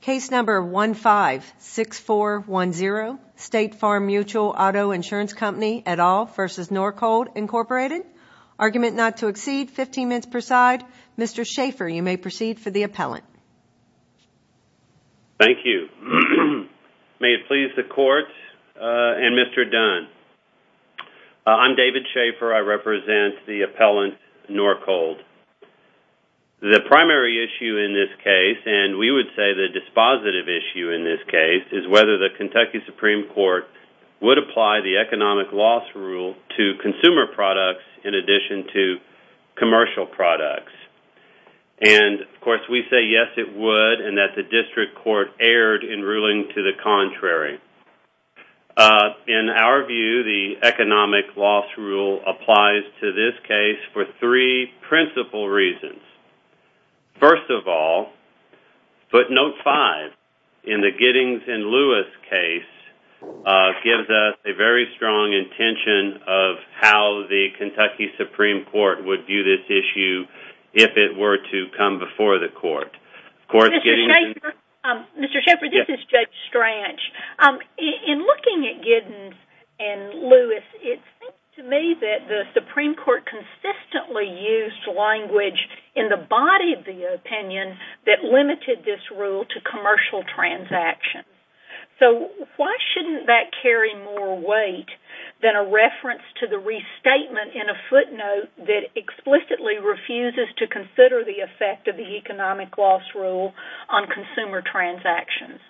Case number 156410, State Farm Mutual Auto Insurance Company et al. v. Norcold, Inc. Argument not to exceed 15 minutes per side. Mr. Schaffer, you may proceed for the appellant. Thank you. May it please the Court and Mr. Dunn. I'm David Schaffer. I represent the appellant Norcold. The primary issue in this case, and we would say the dispositive issue in this case, is whether the Kentucky Supreme Court would apply the economic loss rule to consumer products in addition to commercial products. And, of course, we say yes it would and that the District Court erred in ruling to the contrary. In our view, the economic loss rule applies to this case for three principal reasons. First of all, footnote 5 in the Giddings and Lewis case gives us a very strong intention of how the Kentucky Supreme Court would view this issue if it were to come before the Court. Mr. Schaffer, this is Judge Stranch. In looking at Giddings and Lewis, it seems to me that the Supreme Court consistently used language in the body of the opinion that limited this rule to commercial transactions. So why shouldn't that carry more weight than a reference to the restatement in a footnote that explicitly refuses to consider the effect of the economic loss rule on consumer transactions?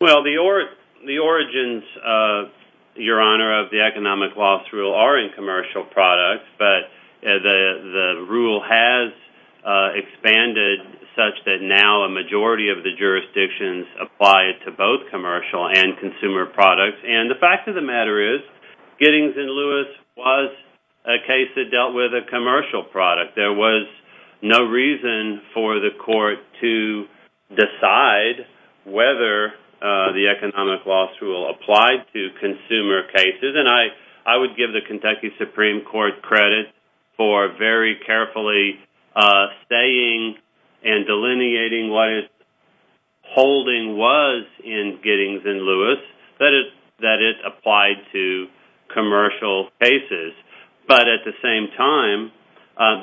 Well, the origins, Your Honor, of the economic loss rule are in commercial products, but the rule has expanded such that now a majority of the jurisdictions apply it to both commercial and consumer products. And the fact of the matter is, Giddings and Lewis was a case that dealt with a commercial product. There was no reason for the Court to decide whether the economic loss rule applied to consumer cases. And I would give the Kentucky Supreme Court credit for very carefully saying and delineating what its holding was in Giddings and Lewis, that it applied to commercial cases. But at the same time,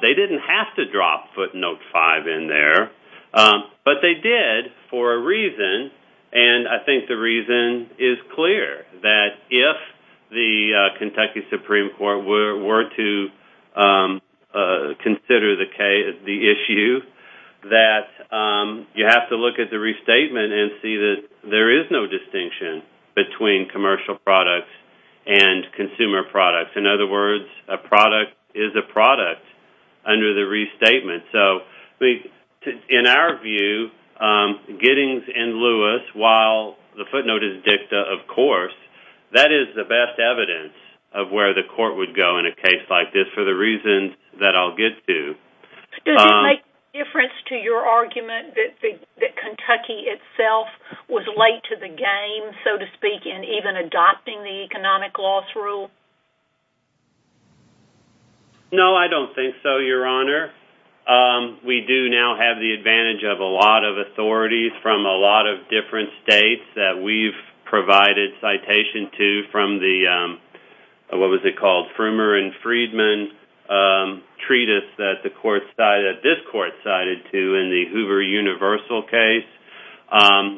they didn't have to drop footnote 5 in there. But they did for a reason, and I think the reason is clear, that if the Kentucky Supreme Court were to consider the issue, that you have to look at the restatement and see that there is no distinction between commercial products and consumer products. In other words, a product is a product under the restatement. In our view, Giddings and Lewis, while the footnote is dicta, of course, that is the best evidence of where the Court would go in a case like this, for the reasons that I'll get to. Does it make a difference to your argument that Kentucky itself was late to the game, so to speak, in even adopting the economic loss rule? No, I don't think so, Your Honor. We do now have the advantage of a lot of authorities from a lot of different states that we've provided citation to from the, what was it called, Frummer and Friedman treatise that this Court cited to in the Hoover Universal case.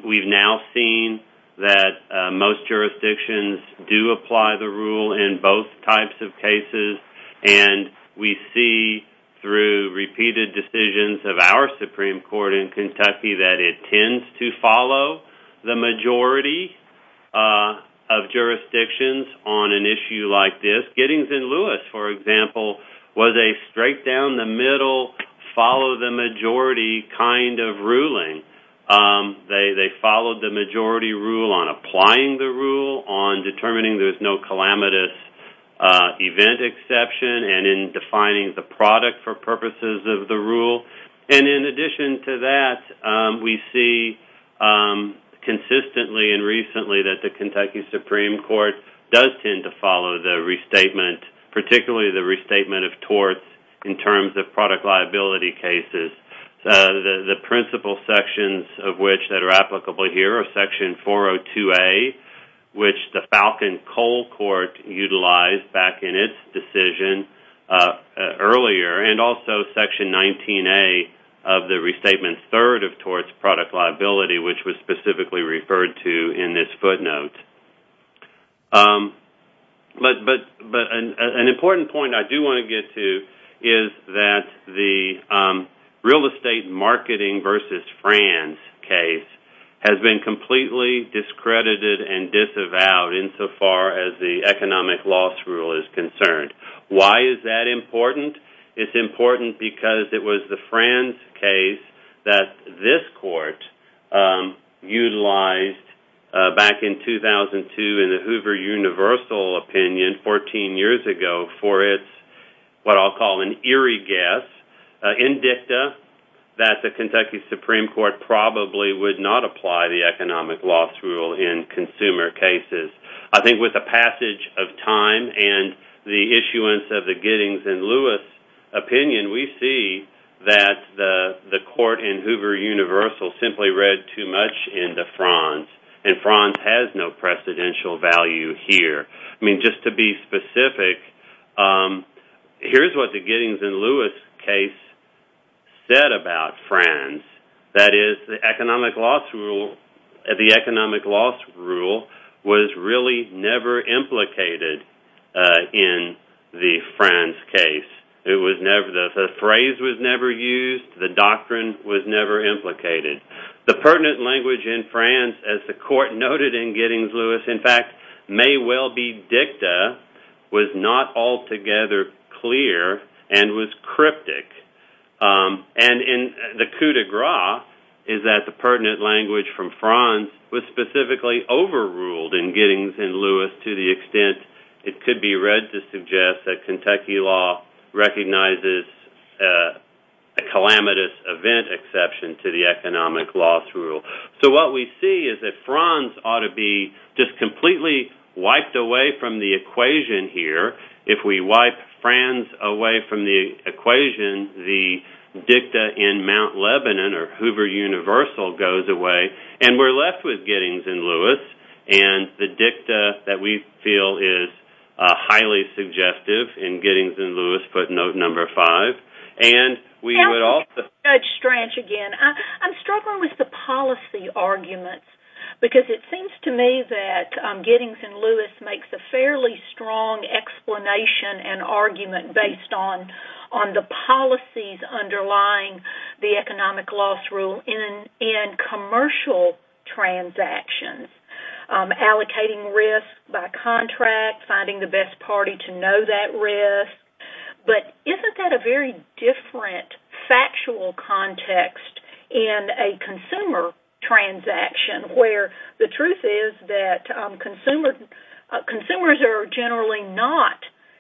We've now seen that most jurisdictions do apply the rule in both types of cases, and we see through repeated decisions of our Supreme Court in Kentucky that it tends to follow the majority of jurisdictions on an issue like this. Giddings and Lewis, for example, was a straight down the middle, follow the majority kind of ruling. They followed the majority rule on applying the rule, on determining there's no calamitous event exception, and in defining the product for purposes of the rule. And in addition to that, we see consistently and recently that the Kentucky Supreme Court does tend to follow the restatement, particularly the restatement of torts, in terms of product liability cases. The principal sections of which that are applicable here are Section 402A, which the Falcon Coal Court utilized back in its decision earlier, and also Section 19A of the Restatement Third of Torts Product Liability, which was specifically referred to in this footnote. But an important point I do want to get to is that the real estate marketing versus Franz case has been completely discredited and disavowed insofar as the economic loss rule is concerned. Why is that important? It's important because it was the Franz case that this court utilized back in 2002 in the Hoover Universal opinion 14 years ago for its what I'll call an eerie guess, indicta that the Kentucky Supreme Court probably would not apply the economic loss rule in consumer cases. I think with the passage of time and the issuance of the Giddings and Lewis opinion, we see that the court in Hoover Universal simply read too much into Franz, and Franz has no precedential value here. I mean, just to be specific, here's what the Giddings and Lewis case said about Franz. That is, the economic loss rule was really never implicated in the Franz case. The phrase was never used. The doctrine was never implicated. The pertinent language in Franz, as the court noted in Giddings and Lewis, in fact, may well be dicta, was not altogether clear and was cryptic. And the coup de grace is that the pertinent language from Franz was specifically overruled in Giddings and Lewis to the extent it could be read to suggest that Kentucky law recognizes a calamitous event exception to the economic loss rule. So what we see is that Franz ought to be just completely wiped away from the equation here. If we wipe Franz away from the equation, the dicta in Mount Lebanon or Hoover Universal goes away, and we're left with Giddings and Lewis, and the dicta that we feel is highly suggestive in Giddings and Lewis, put note number five, and we would also... Judge Strach again, I'm struggling with the policy arguments because it seems to me that Giddings and Lewis makes a fairly strong explanation and argument based on the policies underlying the economic loss rule in commercial transactions, allocating risk by contract, finding the best party to know that risk. But isn't that a very different factual context in a consumer transaction, where the truth is that consumers are generally not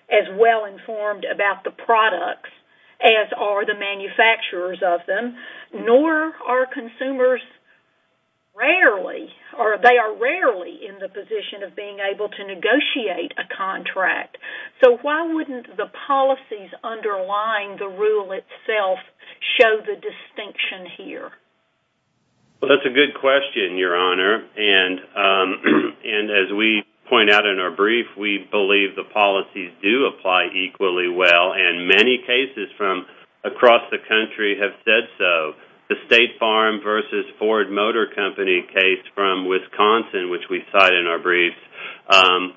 as well informed about the products as are the manufacturers of them, nor are consumers rarely, or they are rarely in the position of being able to negotiate a contract. So why wouldn't the policies underlying the rule itself show the distinction here? Well, that's a good question, Your Honor, and as we point out in our brief, we believe the policies do apply equally well, and many cases from across the country have said so. The State Farm versus Ford Motor Company case from Wisconsin, which we cite in our brief,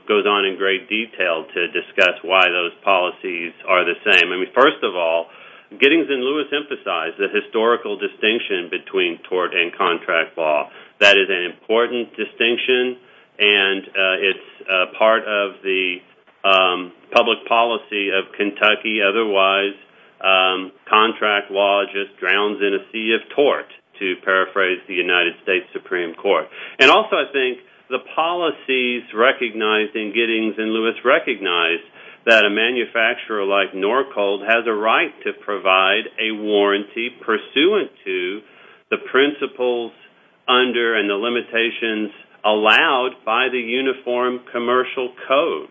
goes on in great detail to discuss why those policies are the same. I mean, first of all, Giddings and Lewis emphasize the historical distinction between tort and contract law. That is an important distinction, and it's part of the public policy of Kentucky. Otherwise, contract law just drowns in a sea of tort, to paraphrase the United States Supreme Court. And also I think the policies recognized in Giddings and Lewis recognize that a manufacturer like Norcold has a right to provide a warranty pursuant to the principles under and the limitations allowed by the Uniform Commercial Code.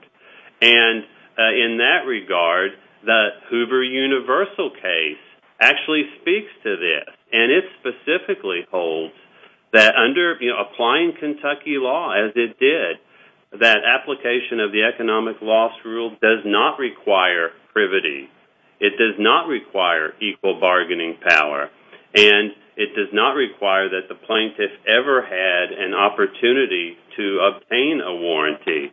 And in that regard, the Hoover Universal case actually speaks to this, and it specifically holds that under applying Kentucky law, as it did, that application of the economic loss rule does not require privity. It does not require equal bargaining power, and it does not require that the plaintiff ever had an opportunity to obtain a warranty.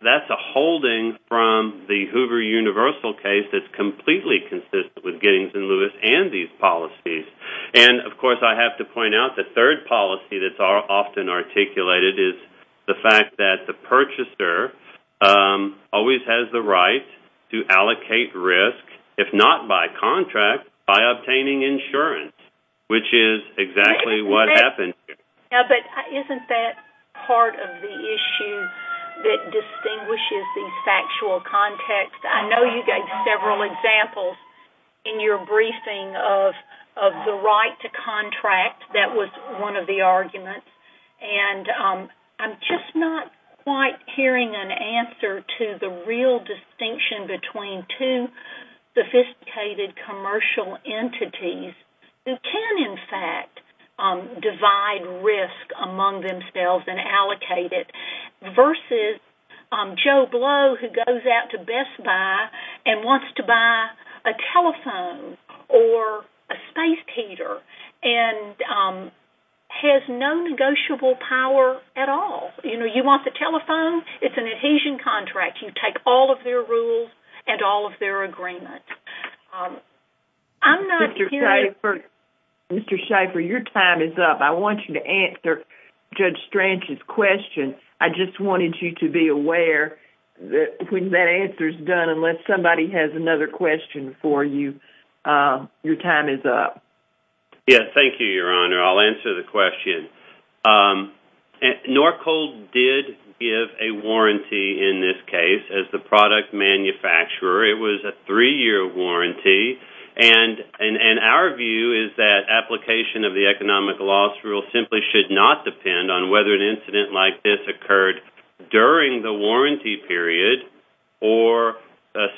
That's a holding from the Hoover Universal case that's completely consistent with Giddings and Lewis and these policies. And, of course, I have to point out the third policy that's often articulated is the fact that the purchaser always has the right to allocate risk, if not by contract, by obtaining insurance, which is exactly what happened here. But isn't that part of the issue that distinguishes these factual contexts? I know you gave several examples in your briefing of the right to contract. That was one of the arguments. And I'm just not quite hearing an answer to the real distinction between two sophisticated commercial entities who can, in fact, divide risk among themselves and allocate it versus Joe Blow, who goes out to Best Buy and wants to buy a telephone or a space heater and has no negotiable power at all. You know, you want the telephone? It's an adhesion contract. You take all of their rules and all of their agreement. I'm not hearing... Mr. Schaefer, your time is up. I want you to answer Judge Strange's question. I just wanted you to be aware that when that answer's done, unless somebody has another question for you, your time is up. Yes, thank you, Your Honor. I'll answer the question. Norcold did give a warranty in this case as the product manufacturer. It was a three-year warranty. And our view is that application of the economic loss rule simply should not depend on whether an incident like this occurred during the warranty period or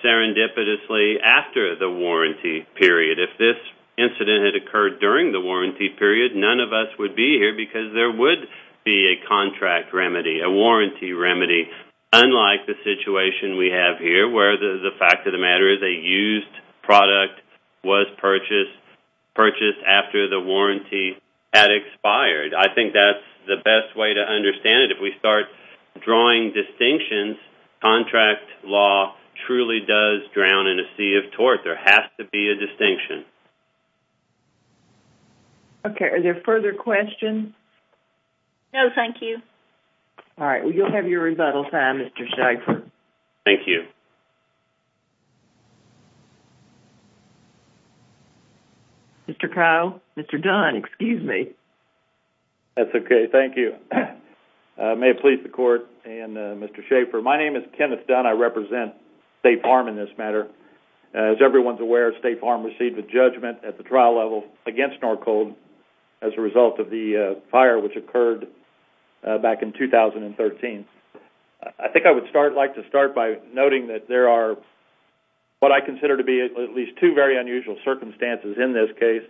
serendipitously after the warranty period. If this incident had occurred during the warranty period, none of us would be here because there would be a contract remedy, a warranty remedy, unlike the situation we have here where the fact of the matter is a used product was purchased after the warranty had expired. I think that's the best way to understand it. If we start drawing distinctions, contract law truly does drown in a sea of tort. There has to be a distinction. Okay. Are there further questions? No, thank you. All right. Well, you'll have your rebuttal time, Mr. Schaefer. Thank you. Mr. Kyle, Mr. Dunn, excuse me. That's okay. Thank you. May it please the Court and Mr. Schaefer, my name is Kenneth Dunn. I represent State Farm in this matter. As everyone's aware, State Farm received a judgment at the trial level against Norcold as a result of the fire which occurred back in 2013. I think I would like to start by noting that there are what I consider to be at least two very unusual circumstances in this case.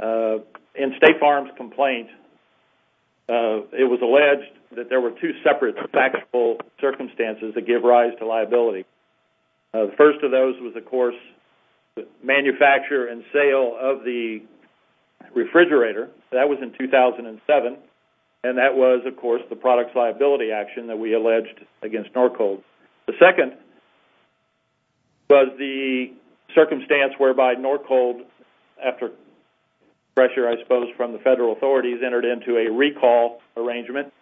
In State Farm's complaint, it was alleged that there were two separate factual circumstances that give rise to liability. The first of those was, of course, the manufacture and sale of the refrigerator. That was in 2007, and that was, of course, the product's liability action that we alleged against Norcold. The second was the circumstance whereby Norcold, after pressure I suppose from the federal authorities, entered into a recall arrangement.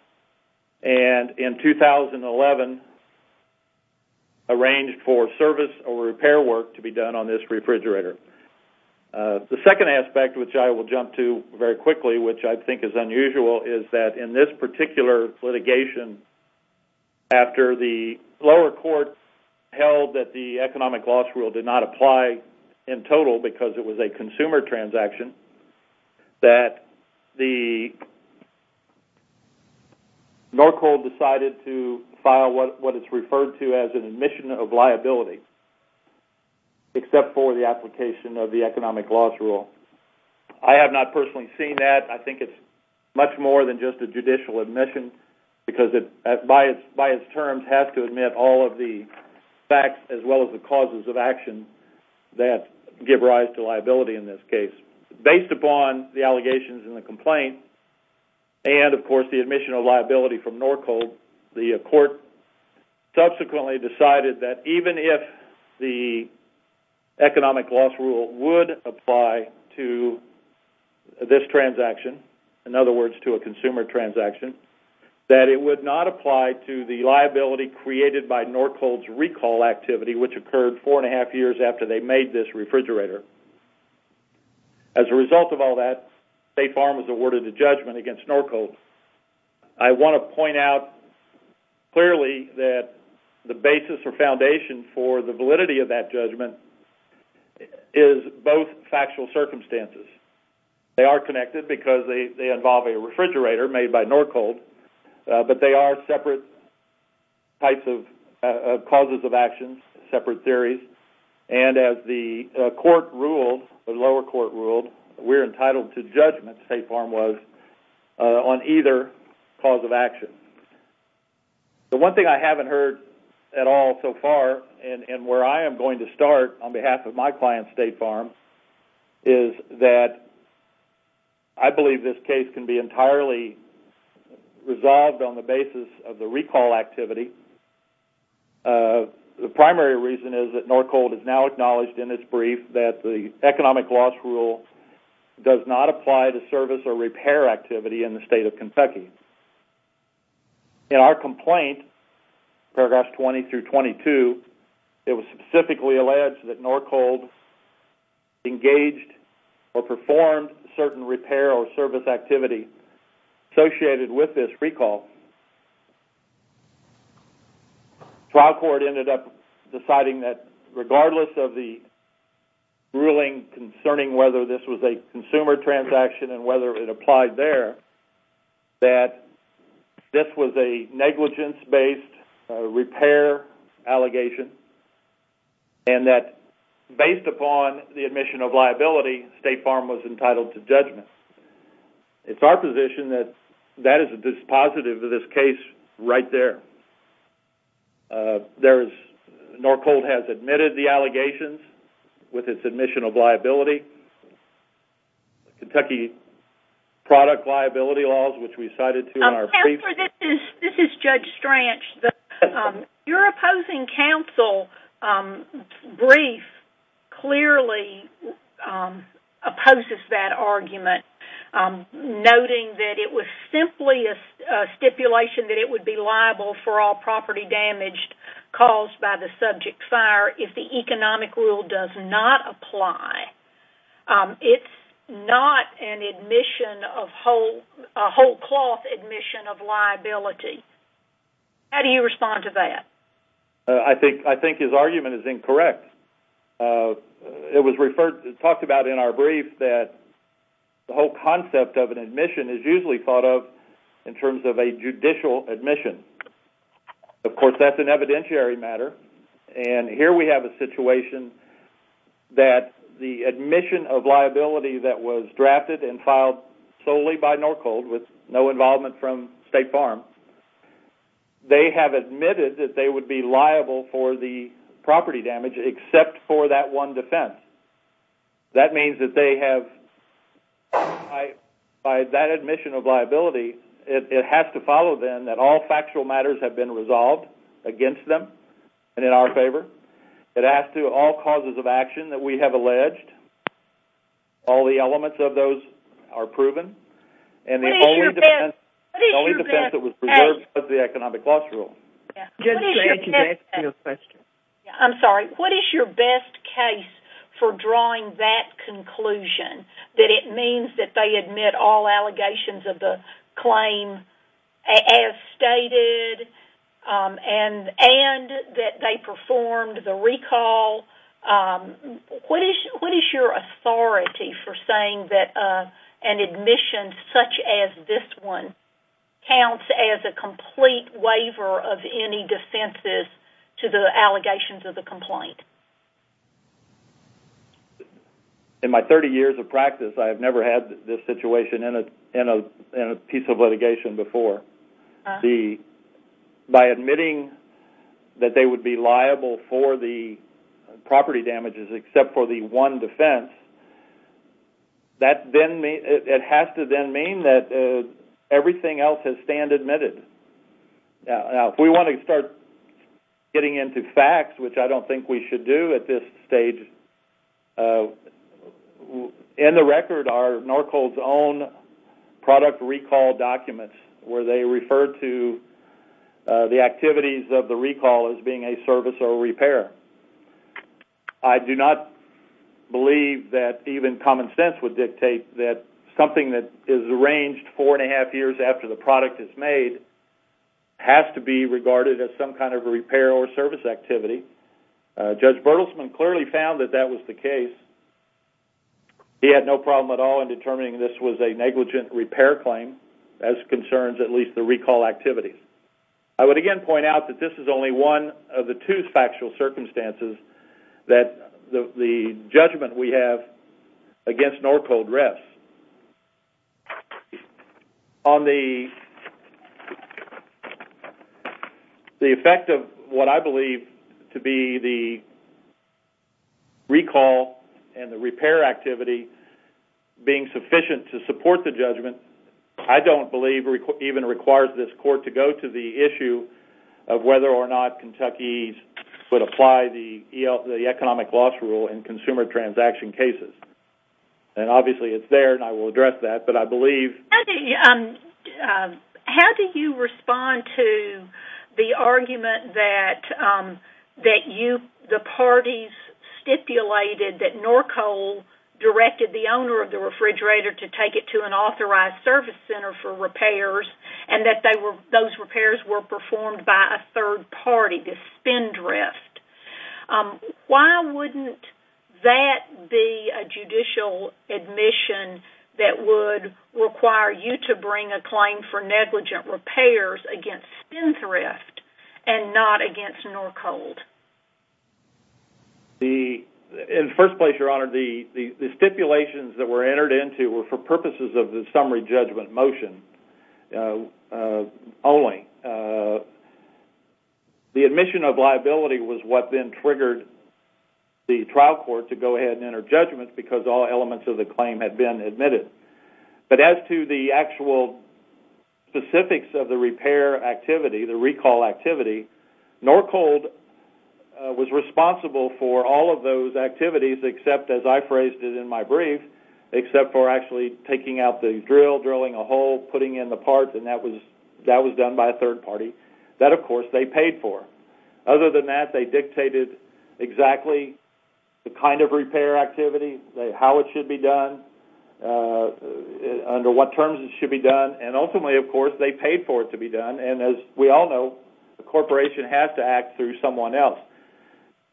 And in 2011, arranged for service or repair work to be done on this refrigerator. The second aspect, which I will jump to very quickly, which I think is unusual, is that in this particular litigation, after the lower court held that the economic loss rule did not apply in total because it was a consumer transaction, that Norcold decided to file what it's referred to as an admission of liability, except for the application of the economic loss rule. I have not personally seen that. I think it's much more than just a judicial admission because it by its terms has to admit all of the facts as well as the causes of action that give rise to liability in this case. Based upon the allegations in the complaint and, of course, the admission of liability from Norcold, the court subsequently decided that even if the economic loss rule would apply to this transaction, in other words, to a consumer transaction, that it would not apply to the liability created by Norcold's recall activity, which occurred four and a half years after they made this refrigerator. As a result of all that, State Farm was awarded a judgment against Norcold. I want to point out clearly that the basis or foundation for the validity of that judgment is both factual circumstances. They are connected because they involve a refrigerator made by Norcold, but they are separate types of causes of action, separate theories, and as the lower court ruled, we're entitled to judgment, State Farm was, on either cause of action. The one thing I haven't heard at all so far, and where I am going to start on behalf of my client, State Farm, is that I believe this case can be entirely resolved on the basis of the recall activity. The primary reason is that Norcold has now acknowledged in its brief that the economic loss rule does not apply to service or repair activity in the state of Kentucky. In our complaint, paragraphs 20 through 22, it was specifically alleged that Norcold engaged or performed certain repair or service activity associated with this recall. Trial court ended up deciding that regardless of the ruling concerning whether this was a consumer transaction and whether it applied there, that this was a negligence-based repair allegation, and that based upon the admission of liability, State Farm was entitled to judgment. It's our position that that is a dispositive of this case right there. Norcold has admitted the allegations with its admission of liability. Kentucky product liability laws, which we cited in our brief. Counselor, this is Judge Stranch. Your opposing counsel's brief clearly opposes that argument, noting that it was simply a stipulation that it would be liable for all property damage caused by the subject fire if the economic rule does not apply. It's not a whole-cloth admission of liability. How do you respond to that? I think his argument is incorrect. It was talked about in our brief that the whole concept of an admission is usually thought of in terms of a judicial admission. Of course, that's an evidentiary matter, and here we have a situation that the admission of liability that was drafted and filed solely by Norcold, with no involvement from State Farm, they have admitted that they would be liable for the property damage except for that one defense. That means that they have, by that admission of liability, it has to follow, then, that all factual matters have been resolved against them and in our favor. It has to do with all causes of action that we have alleged, all the elements of those are proven, and the only defense that was preserved was the economic loss rule. Judge Stranch, can I ask you a question? I'm sorry. What is your best case for drawing that conclusion, that it means that they admit all allegations of the claim as stated and that they performed the recall? What is your authority for saying that an admission such as this one counts as a complete waiver of any defenses to the allegations of the complaint? In my 30 years of practice, I have never had this situation in a piece of litigation before. By admitting that they would be liable for the property damages except for the one defense, it has to then mean that everything else has stand admitted. Now, if we want to start getting into facts, which I don't think we should do at this stage, in the record are Norcold's own product recall documents where they refer to the activities of the recall as being a service or repair. I do not believe that even common sense would dictate that something that is arranged four and a half years after the product is made has to be regarded as some kind of a repair or service activity. Judge Bertelsman clearly found that that was the case. He had no problem at all in determining this was a negligent repair claim as concerns at least the recall activities. I would again point out that this is only one of the two factual circumstances that the judgment we have against Norcold rests. On the effect of what I believe to be the recall and the repair activity being sufficient to support the judgment, I don't believe even requires this court to go to the issue of whether or not Kentucky would apply the economic loss rule in consumer transaction cases. Obviously, it's there and I will address that, but I believe... How do you respond to the argument that the parties stipulated that Norcold directed the owner of the refrigerator to take it to an authorized service center for repairs and that those repairs were performed by a third party, the spindrift? Why wouldn't that be a judicial admission that would require you to bring a claim for negligent repairs against spindrift and not against Norcold? In the first place, Your Honor, the stipulations that were entered into were for purposes of the summary judgment motion only. The admission of liability was what then triggered the trial court to go ahead and enter judgment because all elements of the claim had been admitted. But as to the actual specifics of the repair activity, the recall activity, Norcold was responsible for all of those activities except, as I phrased it in my brief, except for actually taking out the drill, drilling a hole, putting in the parts, and that was done by a third party. That, of course, they paid for. Other than that, they dictated exactly the kind of repair activity, how it should be done, under what terms it should be done, and ultimately, of course, they paid for it to be done. And as we all know, a corporation has to act through someone else.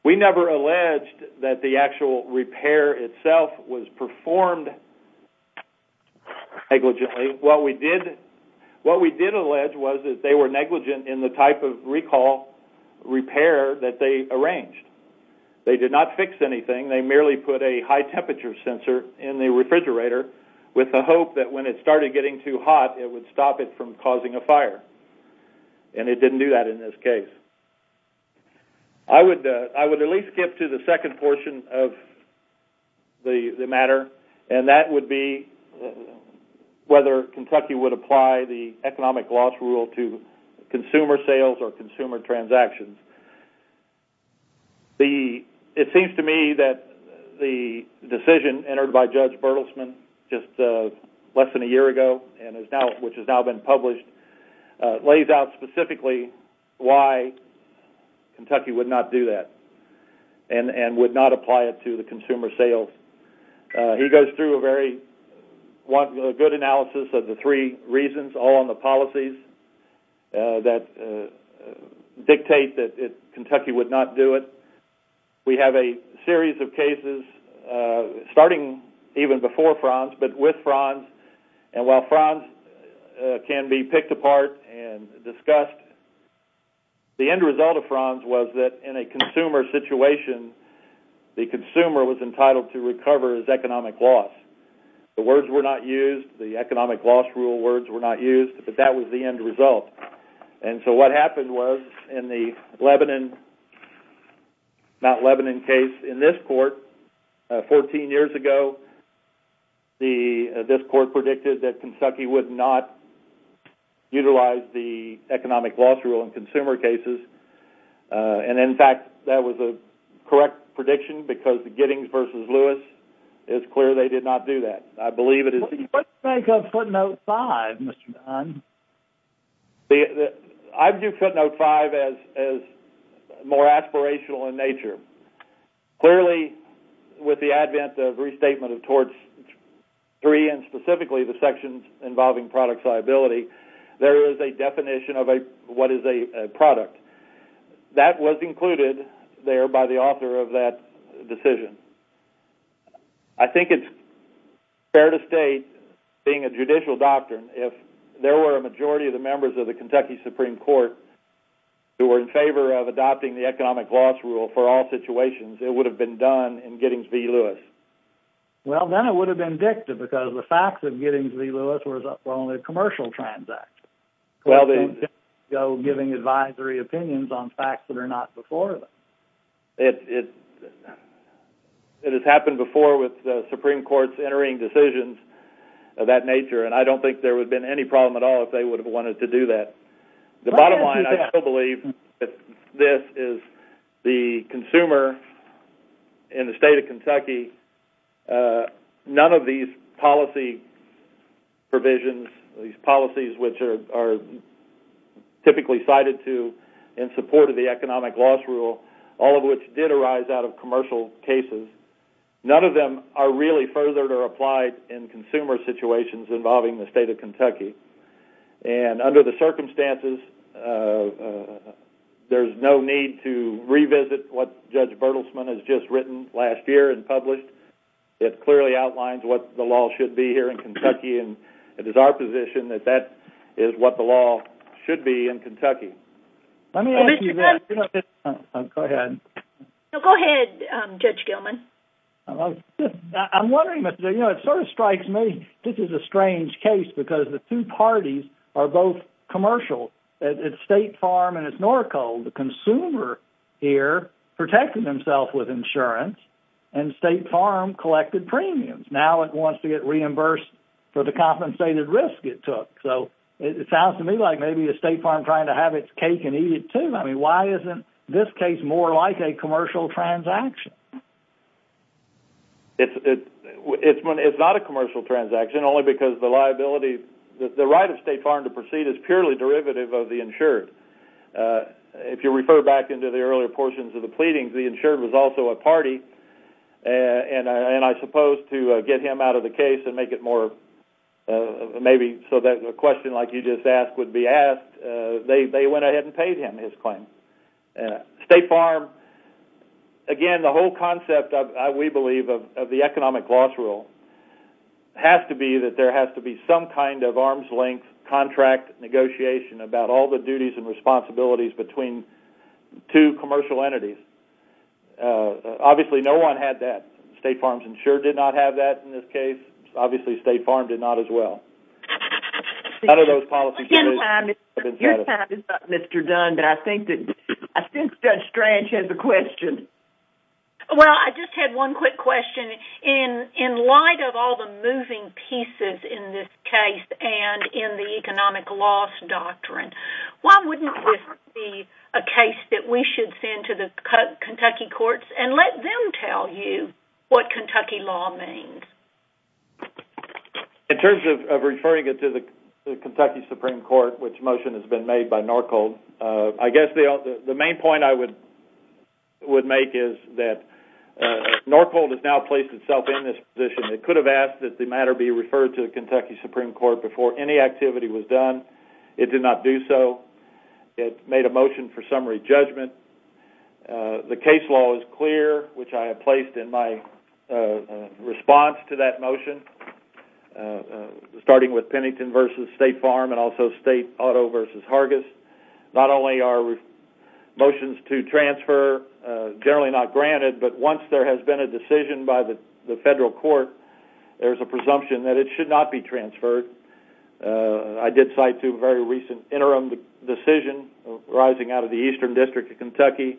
We never alleged that the actual repair itself was performed negligently. What we did allege was that they were negligent in the type of recall repair that they arranged. They did not fix anything. They merely put a high-temperature sensor in the refrigerator with the hope that when it started getting too hot, it would stop it from causing a fire. And it didn't do that in this case. I would at least skip to the second portion of the matter, and that would be whether Kentucky would apply the economic loss rule to consumer sales or consumer transactions. It seems to me that the decision entered by Judge Bertelsman just less than a year ago, which has now been published, lays out specifically why Kentucky would not do that and would not apply it to the consumer sales. He goes through a very good analysis of the three reasons, all on the policies that dictate that Kentucky would not do it. We have a series of cases, starting even before Franz, but with Franz. And while Franz can be picked apart and discussed, the end result of Franz was that in a consumer situation, the consumer was entitled to recover his economic loss. The words were not used, the economic loss rule words were not used, but that was the end result. And so what happened was, in the Mount Lebanon case in this court, 14 years ago, this court predicted that Kentucky would not utilize the economic loss rule in consumer cases. And, in fact, that was a correct prediction, because the Giddings v. Lewis, it's clear they did not do that. I believe it is true. What do you make of footnote 5, Mr. Don? I view footnote 5 as more aspirational in nature. Clearly, with the advent of restatement towards three, and specifically the sections involving product liability, there is a definition of what is a product. That was included there by the author of that decision. I think it's fair to state, being a judicial doctrine, if there were a majority of the members of the Kentucky Supreme Court who were in favor of adopting the economic loss rule for all situations, it would have been done in Giddings v. Lewis. Well, then it would have been dicted, because the facts of Giddings v. Lewis was up on a commercial transact. Well, then... ...giving advisory opinions on facts that are not before them. It has happened before with the Supreme Court's entering decisions of that nature, and I don't think there would have been any problem at all if they would have wanted to do that. The bottom line, I still believe that this is the consumer in the state of Kentucky. None of these policy provisions, these policies which are typically cited to in support of the economic loss rule, all of which did arise out of commercial cases, none of them are really furthered or applied in consumer situations involving the state of Kentucky. And under the circumstances, there's no need to revisit what Judge Bertelsmann has just written last year and published. It clearly outlines what the law should be here in Kentucky, and it is our position that that is what the law should be in Kentucky. Let me ask you that. Go ahead. Go ahead, Judge Gilman. I'm wondering, you know, it sort of strikes me this is a strange case because the two parties are both commercial. It's State Farm and it's Norco, the consumer here protecting himself with insurance, and State Farm collected premiums. Now it wants to get reimbursed for the compensated risk it took. So it sounds to me like maybe it's State Farm trying to have its cake and eat it, too. I mean, why isn't this case more like a commercial transaction? It's not a commercial transaction only because the liability, the right of State Farm to proceed is purely derivative of the insured. If you refer back into the earlier portions of the pleadings, the insured was also a party, and I suppose to get him out of the case and make it more maybe so that a question like you just asked would be asked, they went ahead and paid him his claim. State Farm, again, the whole concept, we believe, of the economic loss rule has to be that there has to be some kind of arm's length contract negotiation about all the duties and responsibilities between two commercial entities. Obviously, no one had that. State Farm's insured did not have that in this case. Obviously, State Farm did not as well. None of those policies have been set up. Your time is up, Mr. Dunn, but I think that Judge Strange has a question. Well, I just had one quick question. In light of all the moving pieces in this case and in the economic loss doctrine, why wouldn't this be a case that we should send to the Kentucky courts and let them tell you what Kentucky law means? In terms of referring it to the Kentucky Supreme Court, which motion has been made by Norcold, I guess the main point I would make is that Norcold has now placed itself in this position. It could have asked that the matter be referred to the Kentucky Supreme Court before any activity was done. It did not do so. It made a motion for summary judgment. The case law is clear, which I have placed in my response to that motion, starting with Pennington v. State Farm and also State Auto v. Hargis. Not only are motions to transfer generally not granted, but once there has been a decision by the federal court, there's a presumption that it should not be transferred. I did cite a very recent interim decision arising out of the Eastern District of Kentucky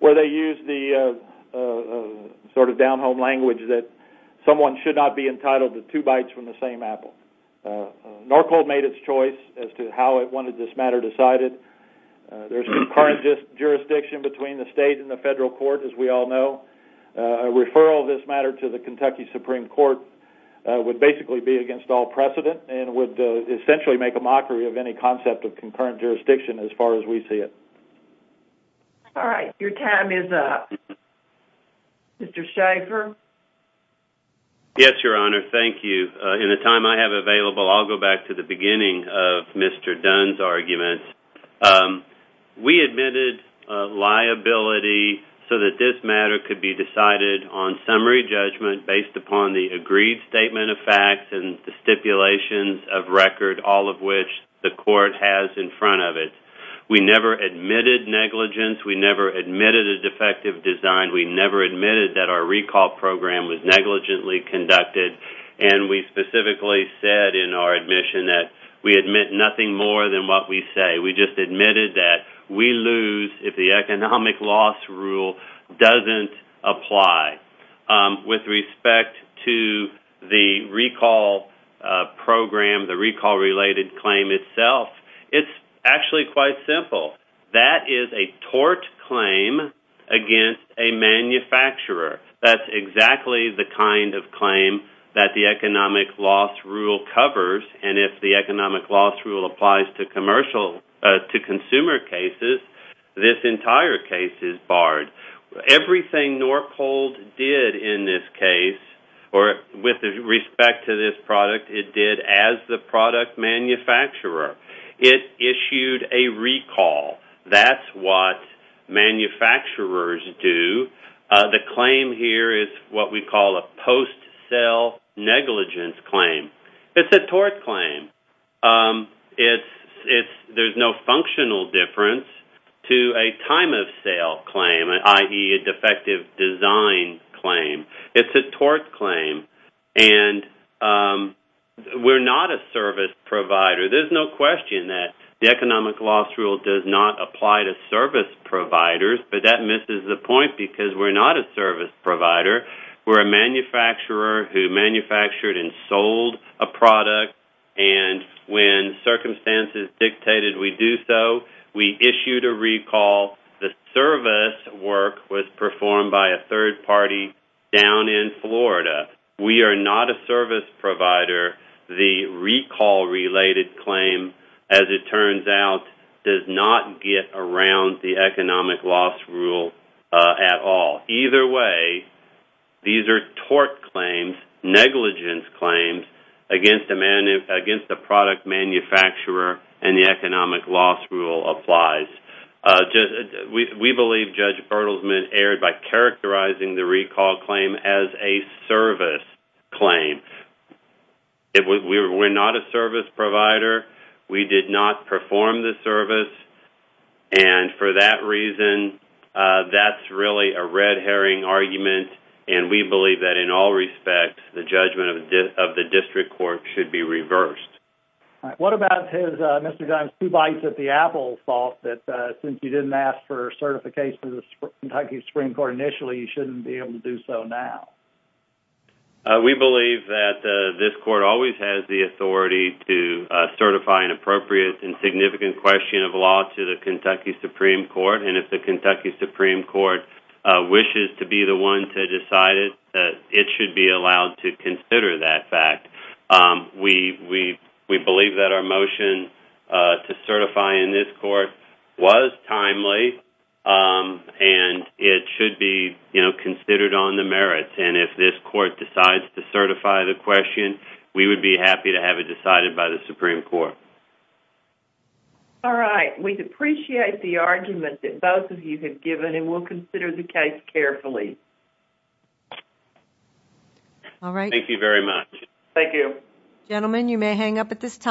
where they used the sort of down-home language that someone should not be entitled to two bites from the same apple. Norcold made its choice as to how it wanted this matter decided. There's concurrent jurisdiction between the state and the federal court, as we all know. A referral of this matter to the Kentucky Supreme Court would basically be against all precedent. It would essentially make a mockery of any concept of concurrent jurisdiction as far as we see it. All right. Your time is up. Mr. Shaffer? Yes, Your Honor. Thank you. In the time I have available, I'll go back to the beginning of Mr. Dunn's argument. We admitted liability so that this matter could be decided on summary judgment based upon the agreed statement of facts and the stipulations of record, all of which the court has in front of it. We never admitted negligence. We never admitted a defective design. We never admitted that our recall program was negligently conducted, and we specifically said in our admission that we admit nothing more than what we say. We just admitted that we lose if the economic loss rule doesn't apply. With respect to the recall program, the recall-related claim itself, it's actually quite simple. That is a tort claim against a manufacturer. That's exactly the kind of claim that the economic loss rule covers, and if the economic loss rule applies to consumer cases, this entire case is barred. Everything Norcold did in this case, or with respect to this product, it did as the product manufacturer. It issued a recall. That's what manufacturers do. The claim here is what we call a post-sale negligence claim. It's a tort claim. There's no functional difference to a time-of-sale claim, i.e., a defective design claim. It's a tort claim, and we're not a service provider. There's no question that the economic loss rule does not apply to service providers, but that misses the point because we're not a service provider. We're a manufacturer who manufactured and sold a product, and when circumstances dictated we do so, we issued a recall. The service work was performed by a third party down in Florida. We are not a service provider. The recall-related claim, as it turns out, does not get around the economic loss rule at all. Either way, these are tort claims, negligence claims, against the product manufacturer and the economic loss rule applies. We believe Judge Erdelsman erred by characterizing the recall claim as a service claim. We're not a service provider. We did not perform the service, and for that reason, that's really a red herring argument, and we believe that in all respects the judgment of the district court should be reversed. What about Mr. Gimes' two bites at the apple thought, that since you didn't ask for certification of the Kentucky Supreme Court initially, you shouldn't be able to do so now? We believe that this court always has the authority to certify an appropriate and significant question of law to the Kentucky Supreme Court, and if the Kentucky Supreme Court wishes to be the one to decide it, it should be allowed to consider that fact. We believe that our motion to certify in this court was timely, and it should be considered on the merits, and if this court decides to certify the question, we would be happy to have it decided by the Supreme Court. All right. We appreciate the argument that both of you have given, and we'll consider the case carefully. All right. Thank you very much. Thank you. Gentlemen, you may hang up at this time.